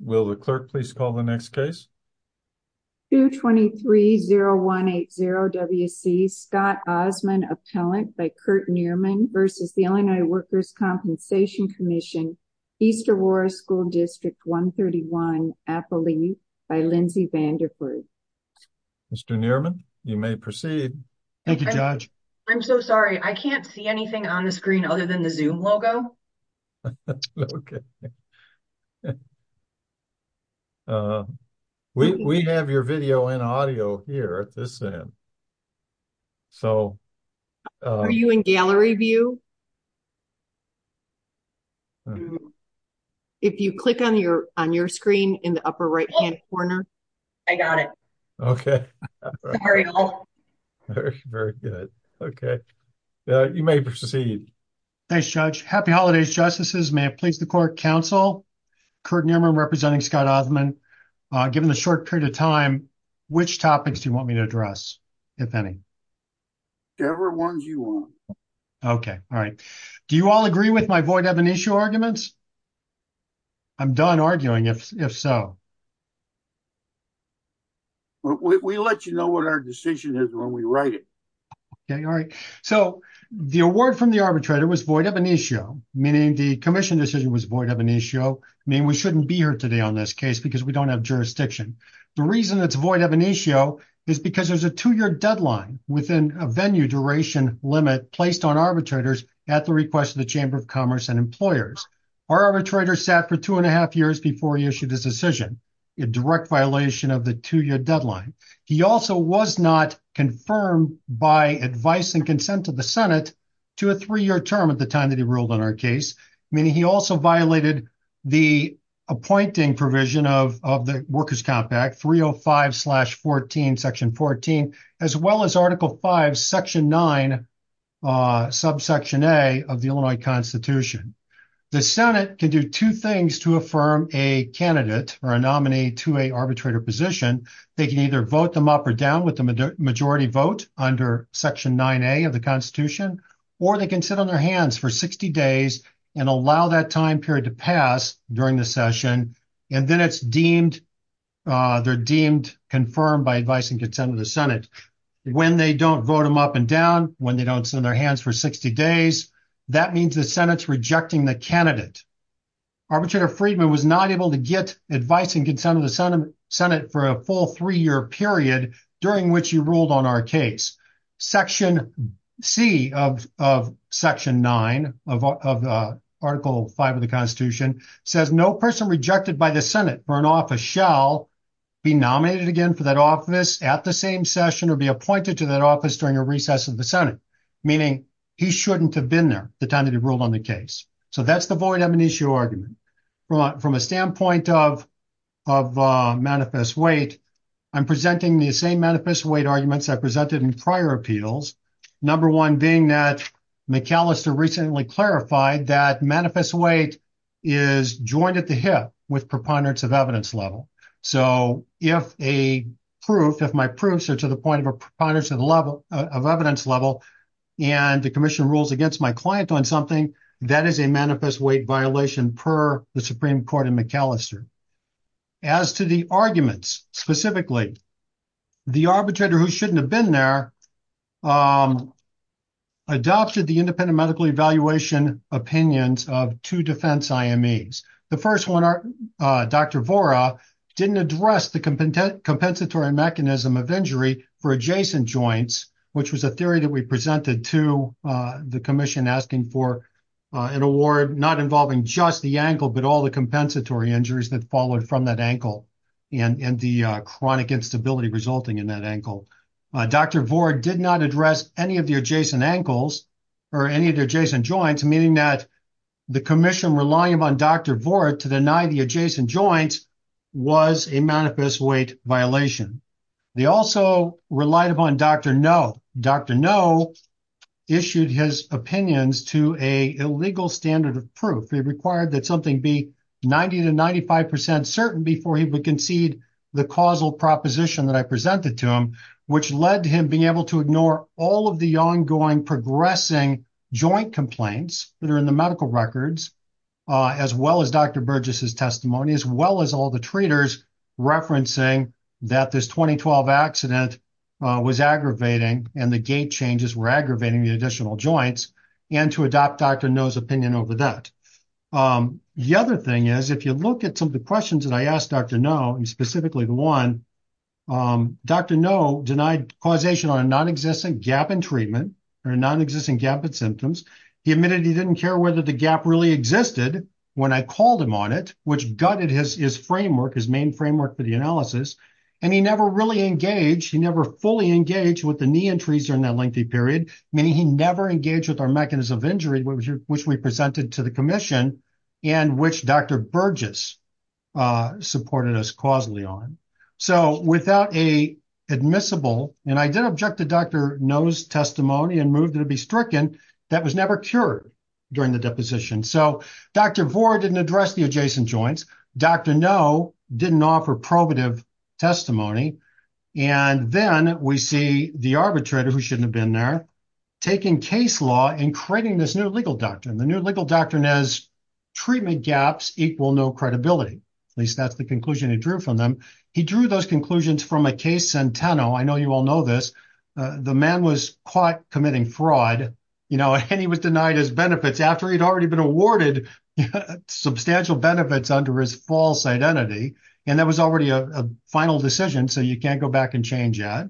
Will the clerk please call the next case? 223-0180-WC, Scott Osmond, appellant by Kurt Nierman v. Illinois Workers' Compensation Comm'n, East Aurora School District 131, Appalooke, by Lindsay Vanderford. Mr. Nierman, you may proceed. Thank you, Judge. I'm so sorry. I can't see anything on the screen other than the Zoom logo. Okay. We have your video and audio here at this end. Are you in gallery view? If you click on your screen in the upper right-hand corner. I got it. Okay. Very good. Okay. You may proceed. Thanks, Judge. Happy Holidays, Justices. May it please the clerk, counsel, Kurt Nierman representing Scott Osmond, given the short period of time, which topics do you want me to address, if any? Whatever ones you want. Okay. All right. Do you all agree with my void of an issue arguments? I'm done arguing, if so. We let you know what our decision is when we write it. Okay. All right. The award from the arbitrator was void of an issue, meaning the commission decision was void of an issue, meaning we shouldn't be here today on this case because we don't have jurisdiction. The reason it's void of an issue is because there's a two-year deadline within a venue duration limit placed on arbitrators at the request of the Chamber of Commerce and employers. Our arbitrator sat for two and a half years before he issued his decision, a direct violation of the two-year deadline. He also was not confirmed by advice and consent of the Senate to a three-year term at the time that he ruled on our case, meaning he also violated the appointing provision of the Workers' Compact 305-14, Section 14, as well as Article 5, Section 9, Subsection A of the Illinois Constitution. The Senate can do two things to affirm a candidate or a nominee to a arbitrator position. They can either vote them up or down with the majority vote under Section 9A of the Constitution, or they can sit on their hands for 60 days and allow that time period to pass during the session, and then they're deemed confirmed by advice and consent of the Senate. When they don't vote them up and down, when they don't sit on their hands for 60 days, that means the Senate's rejecting the candidate. Arbitrator Friedman was not able to get advice and consent of the Senate for a full three-year period during which he ruled on our case. Section C of Section 9 of Article 5 of the Constitution says, no person rejected by the Senate for an office shall be nominated again for that office at the same session or be appointed to that office during a recess of the Senate, meaning he shouldn't have been there at the time that he ruled on the case. That's the void amnesia argument. From a standpoint of manifest weight, I'm presenting the same manifest weight arguments I presented in prior appeals, number one being that McAllister recently clarified that manifest weight is joined at the hip with preponderance of evidence level. If my proofs are to the point of a preponderance of evidence level and the commission rules against my client on something, that is a manifest weight violation per the Supreme Court in McAllister. As to the arguments specifically, the arbitrator who shouldn't have been there adopted the independent medical evaluation opinions of two defense IMEs. The first one, Dr. Vora, didn't address the compensatory mechanism of injury for adjacent joints, which was a theory that we presented to the commission asking for an award not involving just the ankle but all the compensatory injuries that followed from that ankle and the chronic instability resulting in that ankle. Dr. Vora did not address any of the adjacent ankles or any of the adjacent joints, meaning that the commission relying upon Dr. Vora to deny the adjacent joints was a manifest weight violation. They also relied upon Dr. Noe. Dr. Noe issued his opinions to a illegal standard of proof. They required that something be 90 to 95 percent certain before he would concede the causal proposition that I presented to him, which led to him being able to ignore all of the ongoing progressing joint complaints that are in the medical records, as well as Dr. Burgess's testimony, as well as all the treaters referencing that this 2012 accident was aggravating and the gait changes were aggravating the additional joints, and to adopt Dr. Noe's opinion over that. The other thing is, if you look at some of the questions that I asked Dr. Noe, specifically the one, Dr. Noe denied causation on a nonexistent gap in treatment or nonexistent gap in symptoms. He admitted he didn't care whether the gap really existed when I called him on it, which gutted his framework, his main framework for the analysis. And he never really engaged. He never fully engaged with the knee entries during that lengthy period, meaning he never engaged with our mechanism of injury, which we presented to the commission and which Dr. Burgess supported us causally on. So without a admissible, and I did object to Dr. Noe's testimony and moved it to be stricken, that was never cured during the deposition. So Dr. Vohr didn't address the adjacent joints. Dr. Noe didn't offer probative testimony. And then we see the arbitrator, who shouldn't have been there, taking case law and creating this new legal doctrine. The new legal doctrine is treatment gaps equal no credibility. At least that's the conclusion he drew from them. He drew those conclusions from a case, Centeno. I know you all know this. The man was caught committing fraud, and he was denied his benefits after he'd already been awarded substantial benefits under his false identity. And that was already a final decision. So you can't go back and change that.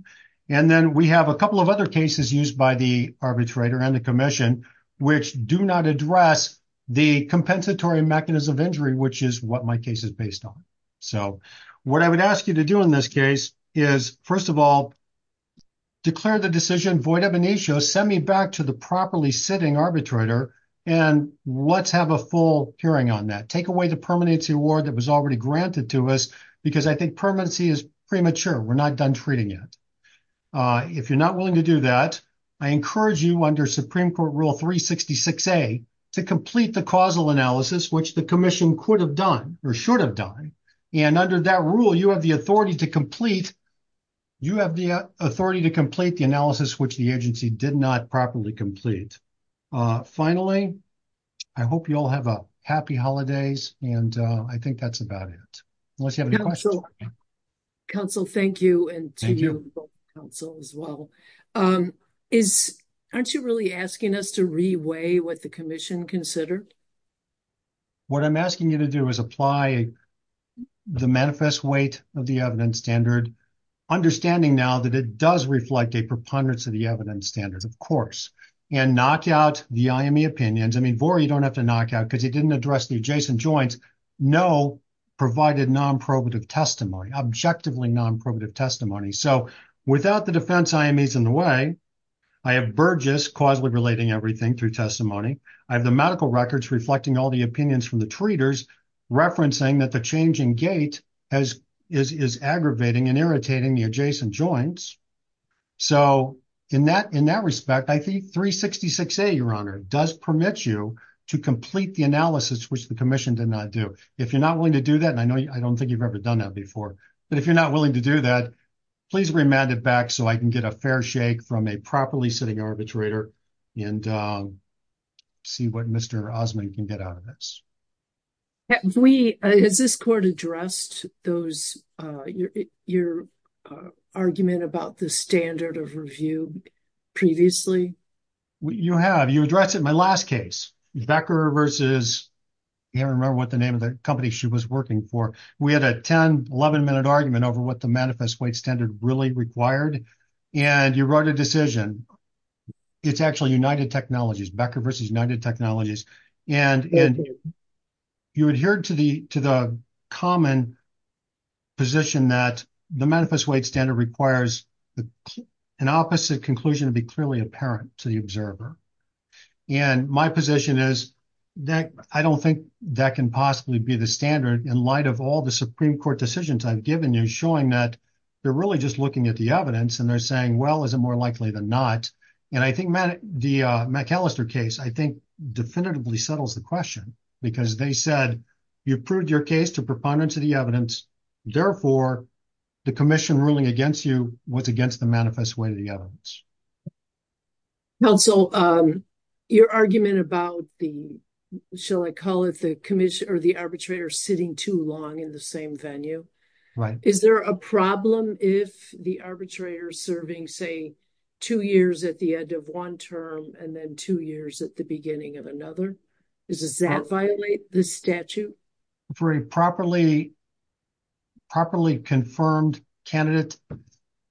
And then we have a couple of other cases used by the arbitrator and the commission, which do not address the compensatory mechanism of injury, which is what my case is based on. So what I would ask you to do in this case is, first of all, declare the decision void Send me back to the properly sitting arbitrator, and let's have a full hearing on that. Take away the permanency award that was already granted to us, because I think permanency is premature. We're not done treating it. If you're not willing to do that, I encourage you under Supreme Court Rule 366A to complete the causal analysis, which the commission could have done or should have done. And under that rule, you have the authority to complete the analysis, which the did not properly complete. Finally, I hope you all have a happy holidays. And I think that's about it. Unless you have any questions. Counsel, thank you. And to you, counsel as well. Aren't you really asking us to reweigh what the commission considered? What I'm asking you to do is apply the manifest weight of the evidence standard, understanding now that it does reflect a preponderance of the evidence standards, of course, and knock out the IME opinions. I mean, Vora, you don't have to knock out because he didn't address the adjacent joints. No provided non probative testimony, objectively non probative testimony. So without the defense, IME is in the way. I have Burgess causally relating everything through testimony. I have the medical records reflecting all the opinions from the treaters, referencing that the changing gate is aggravating and irritating the adjacent joints. So in that respect, I think 366A, your honor, does permit you to complete the analysis, which the commission did not do. If you're not willing to do that, and I know I don't think you've ever done that before, but if you're not willing to do that, please remand it back so I can get a fair shake from a properly sitting arbitrator and see what Mr. Osman can get out of this. Have we, has this court addressed those, your argument about the standard of review previously? You have, you addressed it in my last case. Becker versus, I can't remember what the name of the company she was working for. We had a 10, 11 minute argument over what the manifest weight standard really required. And you wrote a decision. It's actually United Technologies, Becker versus United Technologies. And you adhered to the common position that the manifest weight standard requires an opposite conclusion to be clearly apparent to the observer. And my position is that I don't think that can possibly be the standard in light of all the Supreme Court decisions I've given you, showing that they're really just looking at the evidence and they're saying, well, is it more likely than not? And I think the McAllister case, I think definitively settles the question because they said you proved your case to proponents of the evidence. Therefore, the commission ruling against you was against the manifest weight of the evidence. Counsel, your argument about the, shall I call it the commission or the arbitrator sitting too long in the same venue? Right. Is there a problem if the arbitrator is serving, say, two years at the end of one term and then two years at the beginning of another? Does that violate the statute? For a properly confirmed candidate,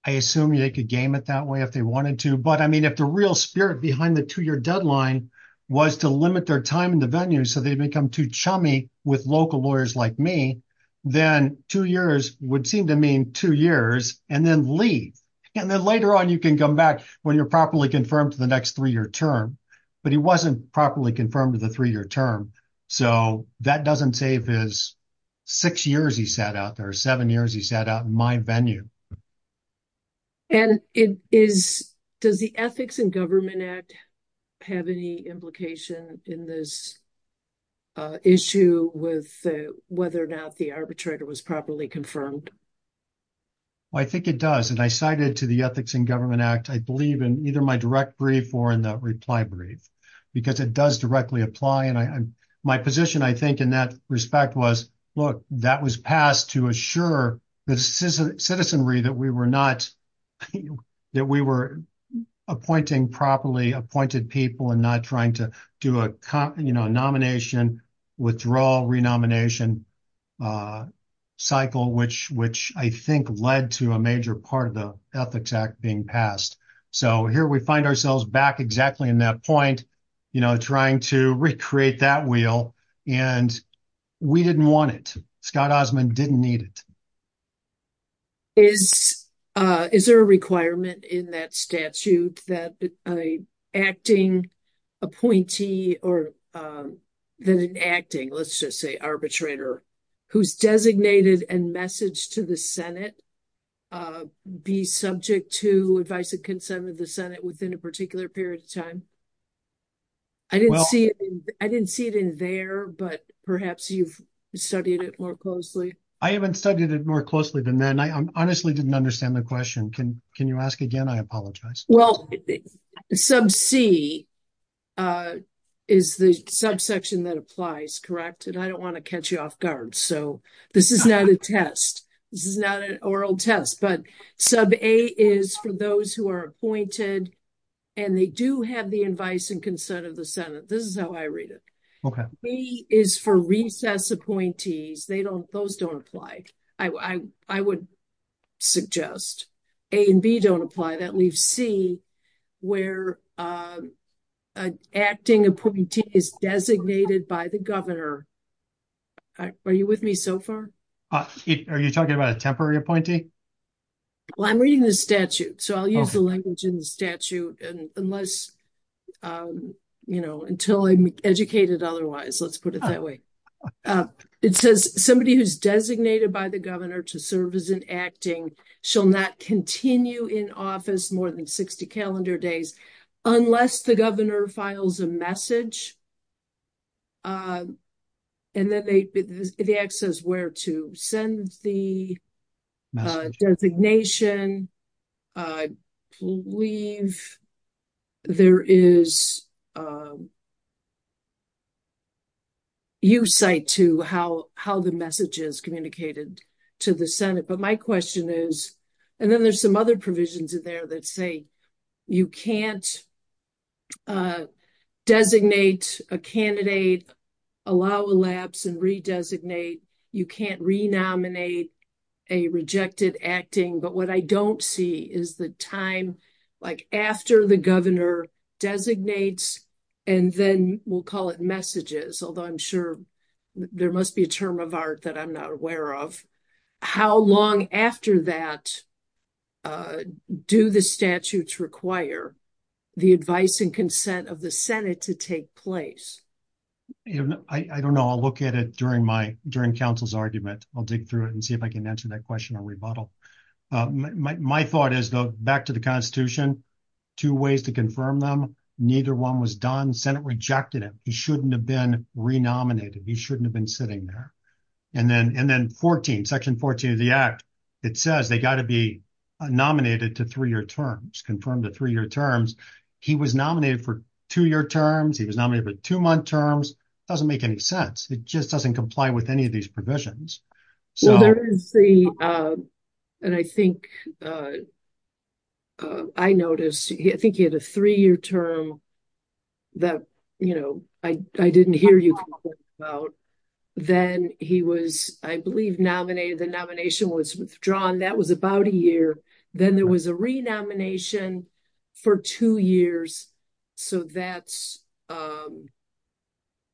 I assume they could game it that way if they wanted to. But I mean, if the real spirit behind the two year deadline was to limit their time in the venue, so they become too chummy with local lawyers like me, then two years would seem to mean two years and then leave. And then later on you can come back when you're properly confirmed to the next three-year term. But he wasn't properly confirmed to the three-year term. So that doesn't save his six years he sat out there, seven years he sat out in my venue. And does the Ethics in Government Act have any implication in this issue with whether or not the arbitrator was properly confirmed? Well, I think it does. And I cited to the Ethics in Government Act, I believe, in either my direct brief or in the reply brief, because it does directly apply. And my position, I think, in that respect was, look, that was passed to assure the citizenry that we were not, that we were appointing properly appointed people and not trying to do a nomination, withdrawal, renomination cycle, which I think led to a major part of the Ethics Act being passed. So here we find ourselves back exactly in that point, trying to recreate that wheel. And we didn't want it. Scott Osmond didn't need it. Is there a requirement in that statute that an acting appointee or that an acting, let's just say arbitrator, who's designated and messaged to the Senate be subject to advice and consent of the Senate within a particular period of time? I didn't see it in there, but perhaps you've studied it more closely. I haven't studied it more closely than that. And I honestly didn't understand the question. Can you ask again? I apologize. Well, sub C is the subsection that applies, correct? And I don't want to catch you off guard. So this is not a test. This is not an oral test. But sub A is for those who are appointed and they do have the advice and consent of the Senate. This is how I read it. Okay. B is for recess appointees. Those don't apply, I would suggest. A and B don't apply. That leaves C where an acting appointee is designated by the governor. Are you with me so far? Are you talking about a temporary appointee? Well, I'm reading the statute. So I'll use the language in the statute. And unless, you know, until I'm educated otherwise, let's put it that way. It says somebody who's designated by the governor to serve as an acting shall not continue in office more than 60 calendar days, unless the governor files a message. And then the access where to send the designation. I believe there is a use site to how the message is communicated to the Senate. But my question is, and then there's some other provisions in there that say, you can't designate a candidate, allow elapse and redesignate. You can't renominate a rejected acting. But what I don't see is the time, like after the governor designates, and then we'll call it messages. Although I'm sure there must be a term of art that I'm not aware of. How long after that do the statutes require the advice and consent of the Senate to take place? I don't know. I'll look at it during council's argument. I'll dig through it and see if I can answer that question or rebuttal. My thought is though, back to the constitution, two ways to confirm them. Neither one was done. Senate rejected it. He shouldn't have been renominated. He shouldn't have been sitting there. And then section 14 of the act, it says they got to be nominated to three-year terms, confirmed to three-year terms. He was nominated for two-year terms. He was nominated for two-month terms. It doesn't make any sense. It just doesn't comply with any of these provisions. So there is the, and I think, I noticed, I think he had a three-year term that, you know, I didn't hear you. Then he was, I believe, nominated. The nomination was withdrawn. That was about a year. Then there was a renomination for two years. So that's,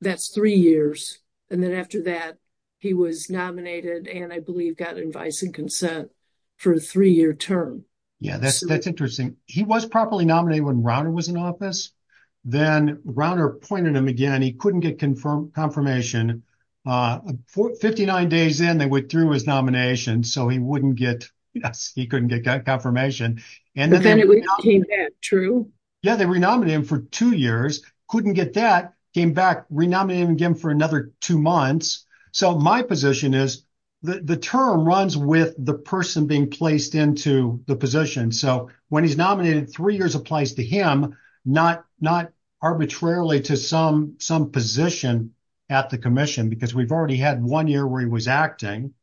that's three years. And then after that, he was nominated, and I believe got advice and consent for a three-year term. Yeah, that's interesting. He was properly nominated when Rauner was in office. Then Rauner appointed him again. He couldn't get confirmation. 59 days in, they withdrew his nomination. So he wouldn't get, yes, he couldn't get confirmation. But then it came back, true? Yeah, they renominated him for two years. Couldn't get that. Came back. Renominated him again for another two months. So my position is the term runs with the person being placed into the position. So when he's nominated, three years applies to him, not arbitrarily to some position at the commission, because we've already had one year where he was acting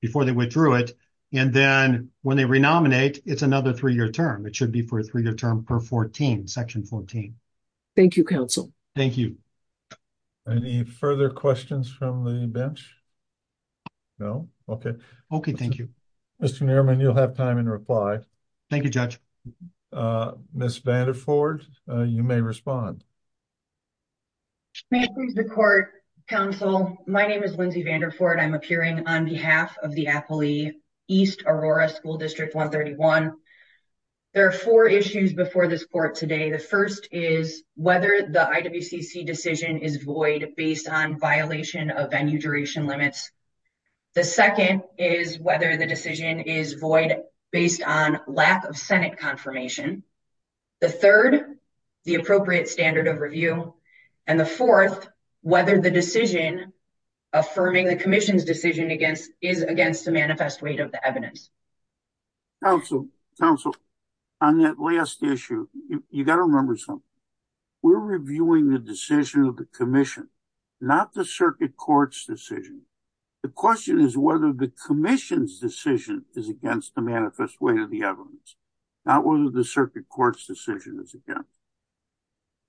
before they withdrew it. And then when they renominate, it's another three-year term. It should be for a three-year term per 14, Section 14. Thank you, counsel. Thank you. Any further questions from the bench? No? Okay. Okay, thank you. Mr. Nerman, you'll have time in reply. Thank you, Judge. Ms. Vanderford, you may respond. May it please the court, counsel. My name is Lindsay Vanderford. I'm appearing on behalf of the Apley East Aurora School District 131. There are four issues before this court today. The first is whether the IWCC decision is void based on violation of venue duration limits. The second is whether the decision is void based on lack of Senate confirmation. The third, the appropriate standard of review. And the fourth, whether the decision affirming the commission's decision against is against the manifest weight of the evidence. Counsel, counsel, on that last issue, you got to remember something. We're reviewing the decision of the commission, not the circuit court's decision. The question is whether the commission's decision is against the manifest weight of the evidence, not whether the circuit court's decision is against.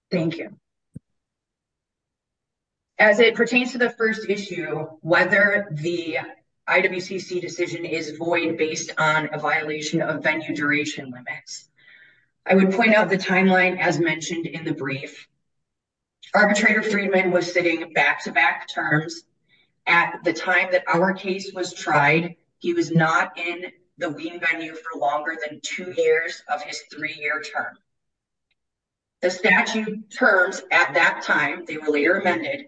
Thank you. As it pertains to the first issue, whether the IWCC decision is void based on a violation of venue duration limits, I would point out the timeline as mentioned in the brief. Arbitrator Freeman was sitting back-to-back terms. At the time that our case was tried, he was not in the Wien venue for longer than two years of his three-year term. The statute terms at that time, they were later amended,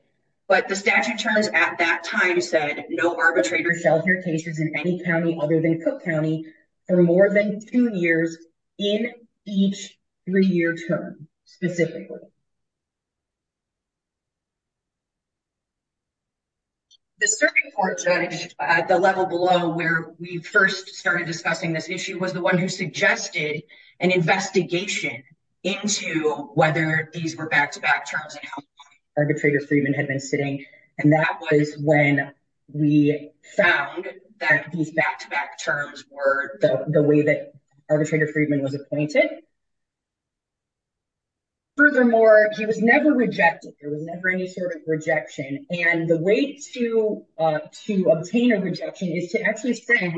but the statute terms at that time said no arbitrator shall hear cases in any county other than Cook County for more than two years in each three-year term specifically. The circuit court judge at the level below where we first started discussing this issue was the one who suggested an investigation into whether these were back-to-back terms and how long arbitrator Freeman had been sitting. And that was when we found that these back-to-back terms were the way that arbitrator Freeman was appointed. Furthermore, he was never rejected. There was never any sort of rejection. And the way to obtain a rejection is to actually send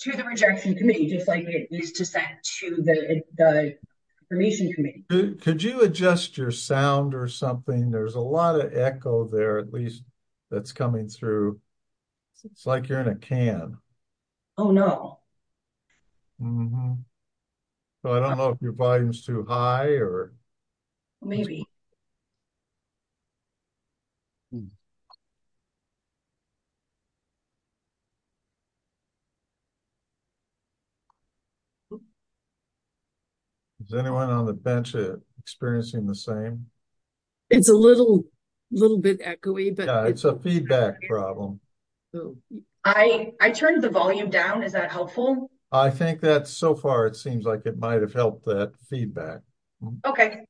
to the rejection committee, just like it is to send to the information committee. Could you adjust your sound or something? There's a lot of echo there, at least that's coming through. It's like you're in a can. Oh, no. So I don't know if your volume is too high or... Maybe. Is anyone on the bench experiencing the same? It's a little bit echoey, but... Yeah, it's a feedback problem. I turned the volume down. Is that helpful? I think that so far, it seems like it might have helped that feedback. Okay.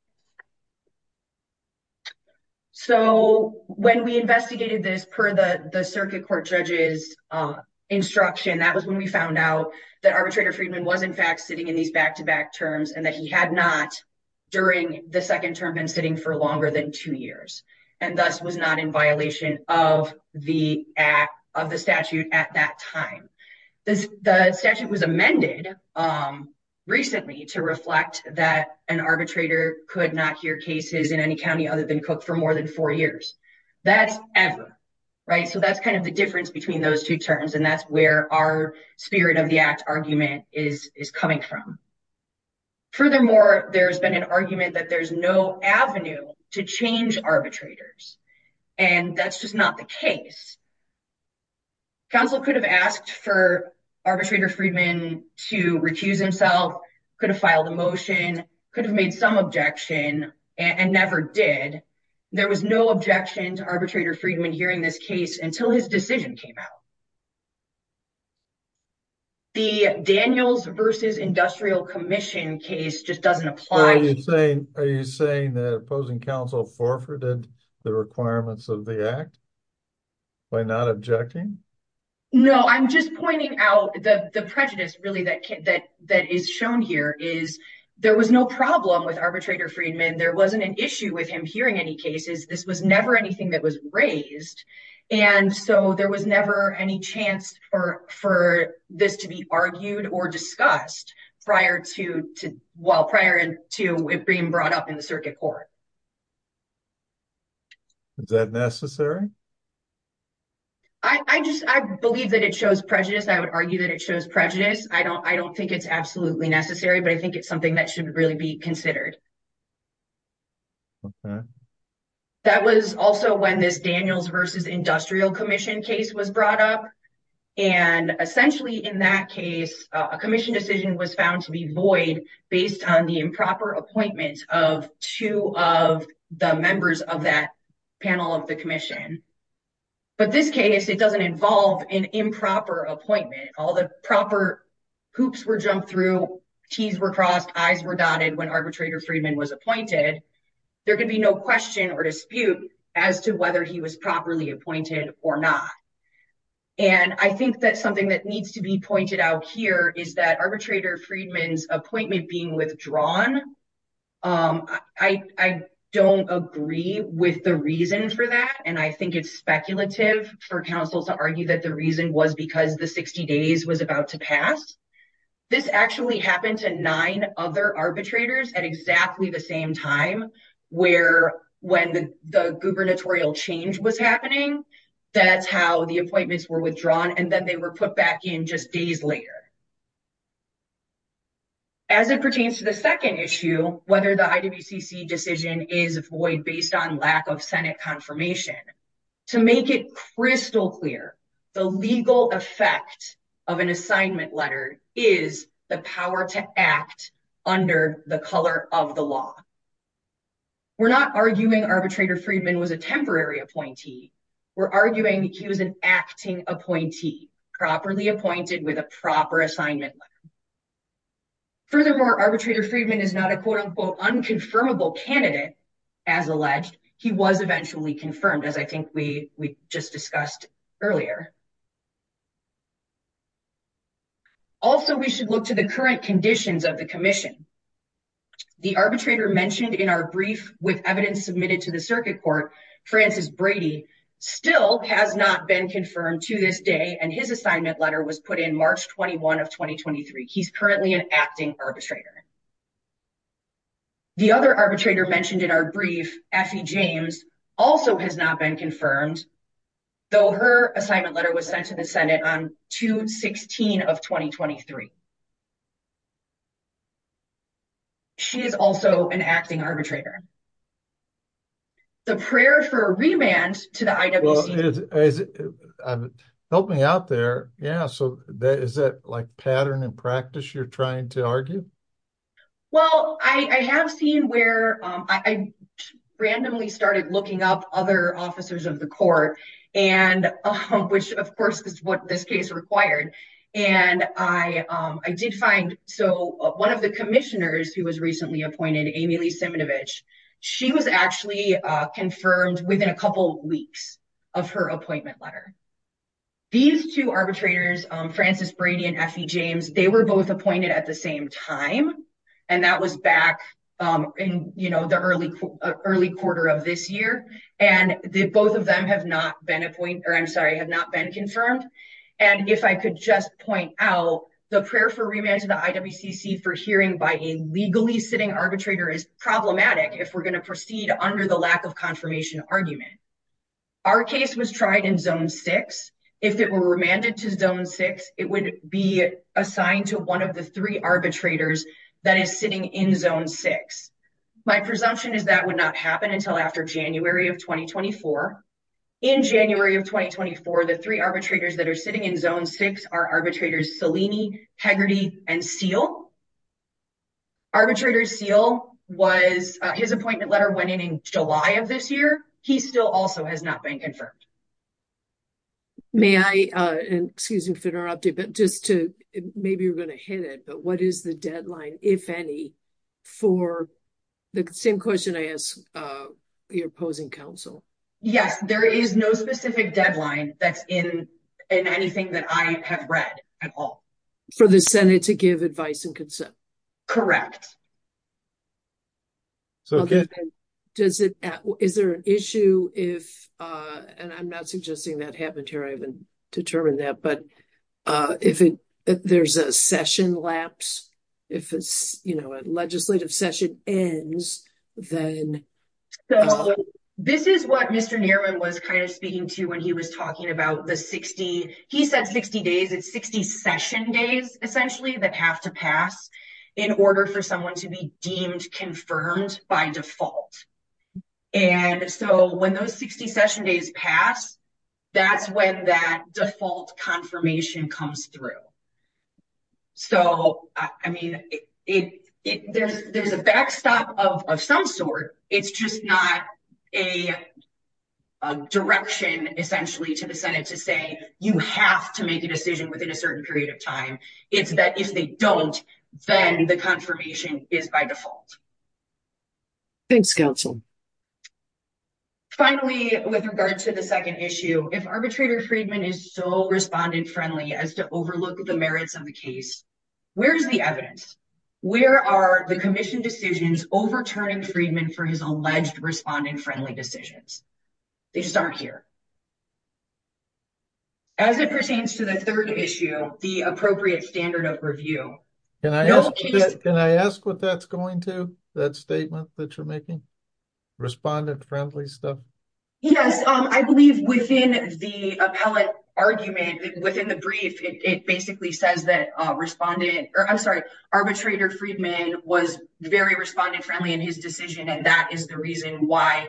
So when we investigated this per the circuit court judge's instruction, that was when we found out that arbitrator Freeman was, in fact, sitting in these back-to-back terms and that he had not during the second term been sitting for longer than two years. And thus was not in violation of the statute at that time. The statute was amended recently to reflect that an arbitrator could not hear cases in any county other than Cook for more than four years. That's ever, right? So that's kind of the difference between those two terms. And that's where our spirit of the act argument is coming from. Furthermore, there's been an argument that there's no avenue to change arbitrators. And that's just not the case. Counsel could have asked for arbitrator Freeman to recuse himself, could have filed a motion, could have made some objection and never did. There was no objection to arbitrator Freeman hearing this case until his decision came out. The Daniels versus Industrial Commission case just doesn't apply. Are you saying that opposing counsel forfeited the requirements of the act by not objecting? No, I'm just pointing out the prejudice really that is shown here is there was no problem with arbitrator Freeman. There wasn't an issue with him hearing any cases. This was never anything that was raised. And so there was never any chance for for this to be argued or discussed prior to while prior to it being brought up in the circuit court. Is that necessary? I just I believe that it shows prejudice. I would argue that it shows prejudice. I don't I don't think it's absolutely necessary, but I think it's something that should really be considered. Okay, that was also when this Daniels versus Industrial Commission case was brought up. And essentially, in that case, a commission decision was found to be void based on the improper appointment of two of the members of that panel of the commission. But this case, it doesn't involve an improper appointment. All the proper hoops were jumped through. T's were crossed, eyes were dotted when arbitrator Freeman was appointed. There could be no question or dispute as to whether he was properly appointed or not. And I think that's something that needs to be pointed out here is that arbitrator Freedman's appointment being withdrawn. I don't agree with the reason for that. And I think it's speculative for counsel to argue that the reason was because the 60 days was about to pass. This actually happened to nine other arbitrators at exactly the same time, where when the gubernatorial change was happening, that's how the appointments were withdrawn. And then they were put back in just days later. As it pertains to the second issue, whether the IWCC decision is void based on lack of Senate confirmation. To make it crystal clear, the legal effect of an assignment letter is the power to act under the color of the law. We're not arguing arbitrator Freedman was a temporary appointee. We're arguing he was an acting appointee, properly appointed with a proper assignment. Furthermore, arbitrator Freedman is not a quote, unquote, unconfirmable candidate as alleged. He was eventually confirmed as I think we just discussed earlier. Also, we should look to the current conditions of the commission. The arbitrator mentioned in our brief with evidence submitted to the circuit court, Francis Brady, still has not been confirmed to this day. And his assignment letter was put in March 21 of 2023. He's currently an acting arbitrator. The other arbitrator mentioned in our brief, Effie James, also has not been confirmed, though her assignment letter was sent to the Senate on June 16 of 2023. She is also an acting arbitrator. The prayer for a remand to the IWC. Help me out there. Yeah, so is that like pattern and practice you're trying to argue? Well, I have seen where I randomly started looking up other officers of the court, and which, of course, is what this case required. And I did find. So one of the commissioners who was recently appointed, Amy Lee Semenovich, she was actually confirmed within a couple of weeks of her appointment letter. These two arbitrators, Francis Brady and Effie James, they were both appointed at the same time. And that was back in the early quarter of this year. And both of them have not been appoint, or I'm sorry, have not been confirmed. And if I could just point out the prayer for remand to the IWCC for hearing by a legally sitting arbitrator is problematic if we're going to proceed under the lack of confirmation argument. Our case was tried in zone six. If it were remanded to zone six, it would be assigned to one of the three arbitrators that is sitting in zone six. My presumption is that would not happen until after January of 2024. In January of 2024, the three arbitrators that are sitting in zone six are arbitrators Salini, Hegarty, and Seale. Arbitrator Seale, his appointment letter went in in July of this year. He still also has not been confirmed. May I, excuse me for interrupting, but just to, maybe you're going to hit it, but what is the deadline, if any, for the same question I asked your opposing counsel? Yes, there is no specific deadline that's in anything that I have read at all. For the Senate to give advice and consent? Correct. Okay. Does it, is there an issue if, and I'm not suggesting that happened here, I haven't determined that, but if there's a session lapse, if it's, you know, a legislative session ends, then? So, this is what Mr. Nierman was kind of speaking to when he was talking about the 60, he said 60 days, it's 60 session days, essentially, that have to pass in order for someone to be deemed confirmed by default. And so, when those 60 session days pass, that's when that default confirmation comes through. So, I mean, there's a backstop of some sort. It's just not a direction, essentially, to the Senate to say, you have to make a decision within a certain period of time. It's that if they don't, then the confirmation is by default. Thanks, counsel. Finally, with regard to the second issue, if arbitrator Friedman is so respondent-friendly as to overlook the merits of the case, where's the evidence? Where are the commission decisions overturning Friedman for his alleged respondent-friendly decisions? They just aren't here. As it pertains to the third issue, the appropriate standard of review. Can I ask what that's going to, that statement that you're making? Respondent-friendly stuff? Yes. I believe within the appellate argument, within the brief, it basically says that arbitrator Friedman was very respondent-friendly in his decision, and that is the reason why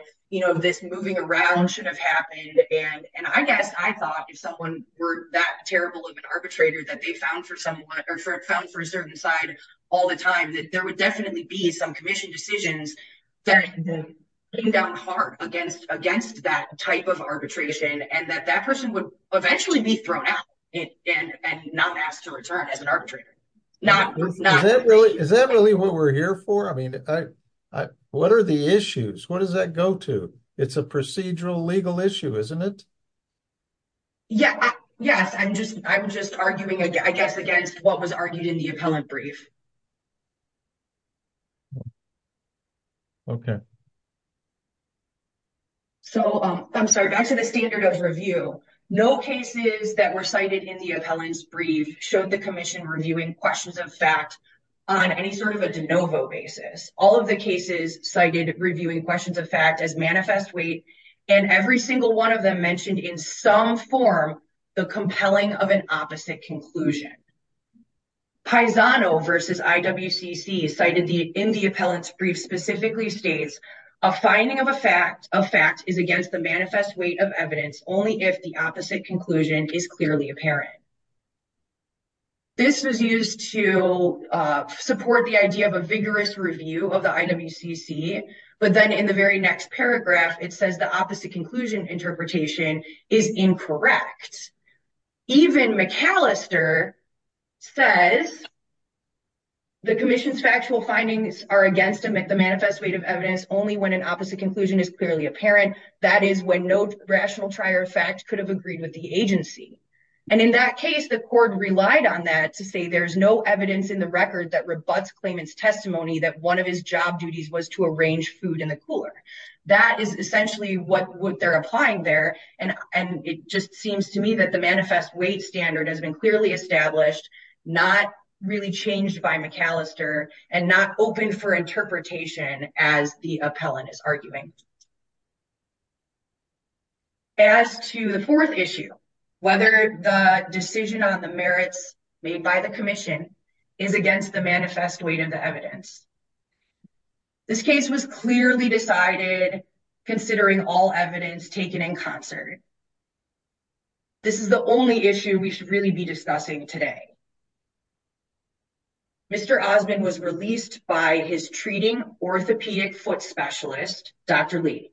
this moving around should have happened. And I guess I thought if someone were that terrible of an arbitrator that they found for a certain side all the time, that there would definitely be some commission decisions that came down hard against that type of arbitration, and that that person would eventually be thrown out and not asked to return as an arbitrator. Is that really what we're here for? I mean, what are the issues? What does that go to? It's a procedural legal issue, isn't it? Yeah. Yes, I'm just arguing, I guess, against what was argued in the appellant brief. Okay. So, I'm sorry, back to the standard of review. No cases that were cited in the appellant's brief showed the commission reviewing questions of fact on any sort of a de novo basis. All of the cases cited reviewing questions of fact as manifest weight, and every single one of them mentioned in some form the compelling of an opposite conclusion. Paisano versus IWCC cited in the appellant's brief specifically states, a finding of a fact is against the manifest weight of evidence only if the opposite conclusion is clearly apparent. This was used to support the idea of a vigorous review of the IWCC, but then in the very next paragraph, it says the opposite conclusion interpretation is incorrect. Even McAllister says, the commission's factual findings are against the manifest weight of evidence only when an opposite conclusion is clearly apparent. That is when no rational trier of fact could have agreed with the agency. And in that case, the court relied on that to say there's no evidence in the record that rebuts claimant's testimony that one of his job duties was to arrange food in the cooler. That is essentially what they're applying there, and it just seems to me that the manifest weight standard has been clearly established, not really changed by McAllister, and not open for interpretation as the appellant is arguing. As to the fourth issue, whether the decision on the merits made by the commission is against the manifest weight of the evidence. This case was clearly decided considering all evidence taken in concert. This is the only issue we should really be discussing today. Mr. Osmond was released by his treating orthopedic foot specialist, Dr. Lee.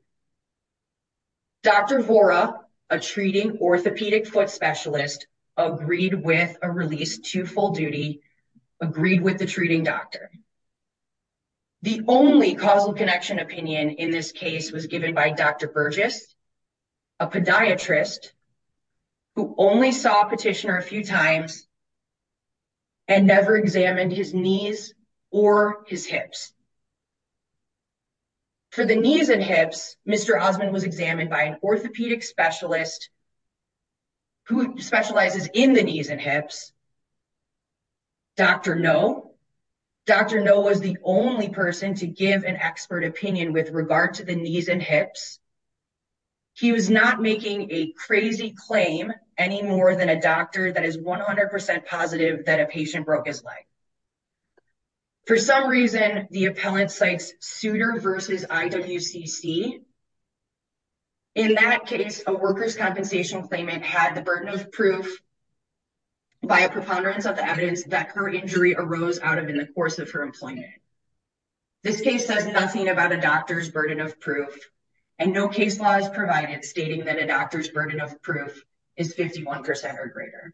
Dr. Vora, a treating orthopedic foot specialist, agreed with a release to full duty, agreed with the treating doctor. The only causal connection opinion in this case was given by Dr. Burgess, a podiatrist who only saw petitioner a few times and never examined his knees or his hips. For the knees and hips, Mr. Osmond was examined by an orthopedic specialist who specializes in the knees and hips, Dr. Noe. Dr. Noe was the only person to give an expert opinion with regard to the knees and hips. He was not making a crazy claim any more than a doctor that is 100% positive that a patient broke his leg. For some reason, the appellant cites Souter v. IWCC. In that case, a worker's compensation claimant had the burden of proof by a preponderance of the evidence that her injury arose out of in the course of her employment. This case says nothing about a doctor's burden of proof, and no case law is provided stating that a doctor's burden of proof is 51% or greater.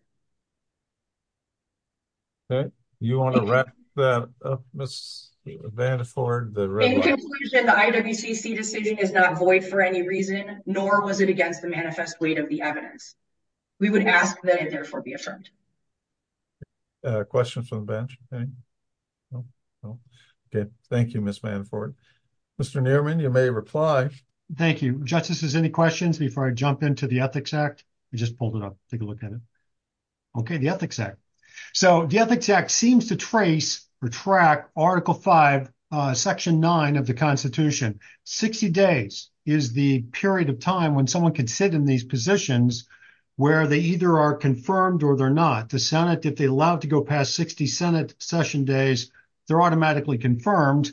Okay, you want to wrap that up, Ms. Vandervoort? In conclusion, the IWCC decision is not void for any reason, nor was it against the manifest weight of the evidence. We would ask that it therefore be affirmed. Questions from the bench? Okay, thank you, Ms. Vandervoort. Mr. Newman, you may reply. Thank you. Justices, any questions before I jump into the Ethics Act? We just pulled it up. Take a look at it. Okay, the Ethics Act. So the Ethics Act seems to trace or track Article 5, Section 9 of the Constitution. 60 days is the period of time when someone can sit in these positions where they either are confirmed or they're not. The Senate, if they allowed to go past 60 Senate session days, they're automatically confirmed.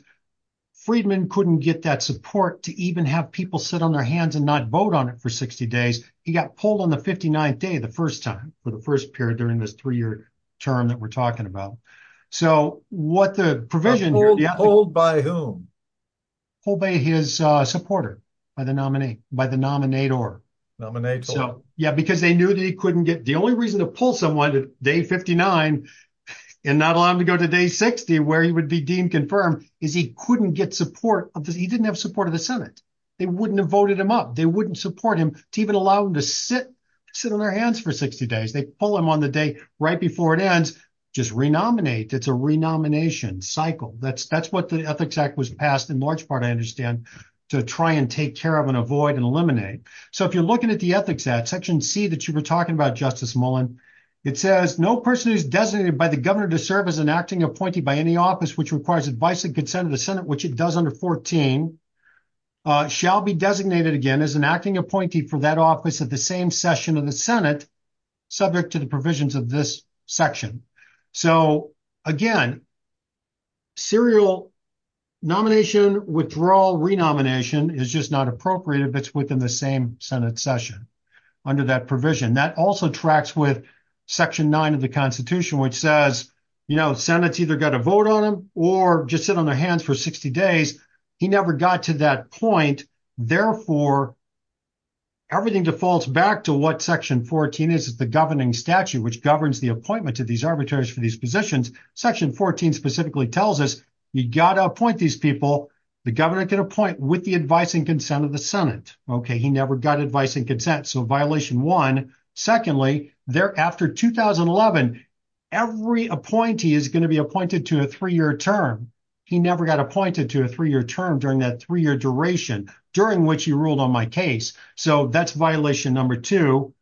Friedman couldn't get that support to even have people sit on their hands and not vote on it for 60 days. He got pulled on the 59th day, the first time, for the first period during this three-year term that we're talking about. So what the provision... Pulled by whom? Pulled by his supporter, by the nominator. Nominator. Yeah, because they knew that he couldn't get... The only reason to pull someone to day 59 and not allow him to go to day 60 where he would be deemed confirmed is he couldn't get support. He didn't have support of the Senate. They wouldn't have voted him up. They wouldn't support him to even allow him to sit on their hands for 60 days. They pull him on the day right before it ends. Just renominate. It's a renomination cycle. That's what the Ethics Act was passed, in large part, I understand, to try and take care of and avoid and eliminate. So if you're looking at the Ethics Act, Section C that you were talking about, Justice Mullen, it says, no person who's designated by the governor to serve as an acting appointee by any office which requires advice and consent of the Senate, which it does under 14, shall be designated again as an acting appointee for that office at the same session of the Senate, subject to the provisions of this section. So again, serial nomination, withdrawal, renomination is just not appropriate if it's within the same Senate session under that provision. That also tracks with Section 9 of the Constitution, which says, you know, Senate's either got to vote on him or just sit on their hands for 60 days. He never got to that point. Therefore, everything defaults back to what Section 14 is, is the governing statute, which governs the appointment of these arbitrators for these positions. Section 14 specifically tells us, you got to appoint these people. The governor can appoint with the advice and consent of the Senate. Okay, he never got advice and consent. So violation one. Secondly, there after 2011, every appointee is going to be appointed to a three-year term. He never got appointed to a three-year term during that three-year duration, during which he ruled on my case. So that's violation number two.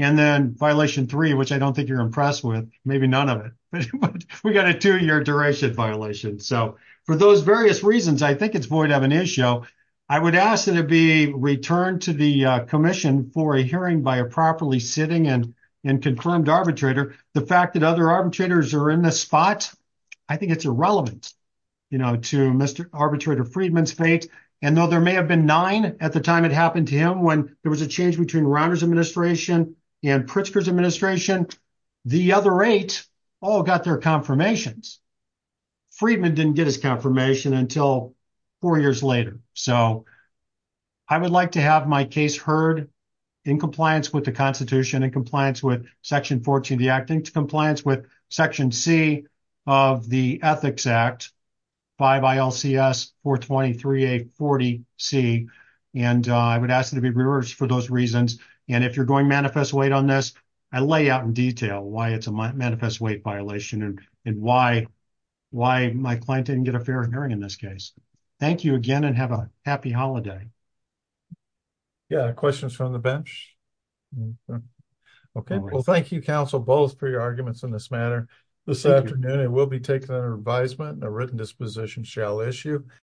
And then violation three, which I don't think you're impressed with, maybe none of it, but we got a two-year duration violation. So for those various reasons, I think it's void of an issue. I would ask that it be returned to the commission for a hearing by a properly sitting and confirmed arbitrator. The fact that other arbitrators are in this spot, I think it's irrelevant. You know, to Mr. Arbitrator Friedman's fate. And though there may have been nine at the time it happened to him, when there was a change between Rauner's administration and Pritzker's administration, the other eight all got their confirmations. Friedman didn't get his confirmation until four years later. So I would like to have my case heard in compliance with the Constitution and compliance with Section 14 of the Act and compliance with Section C of the Ethics Act. 5 ILCS 423-840-C. And I would ask it to be reversed for those reasons. And if you're going manifest weight on this, I lay out in detail why it's a manifest weight violation and why my client didn't get a fair hearing in this case. Thank you again and have a happy holiday. Yeah, questions from the bench? Okay, well, thank you, counsel, both for your arguments in this manner. This afternoon, it will be taken under advisement and a written disposition shall issue.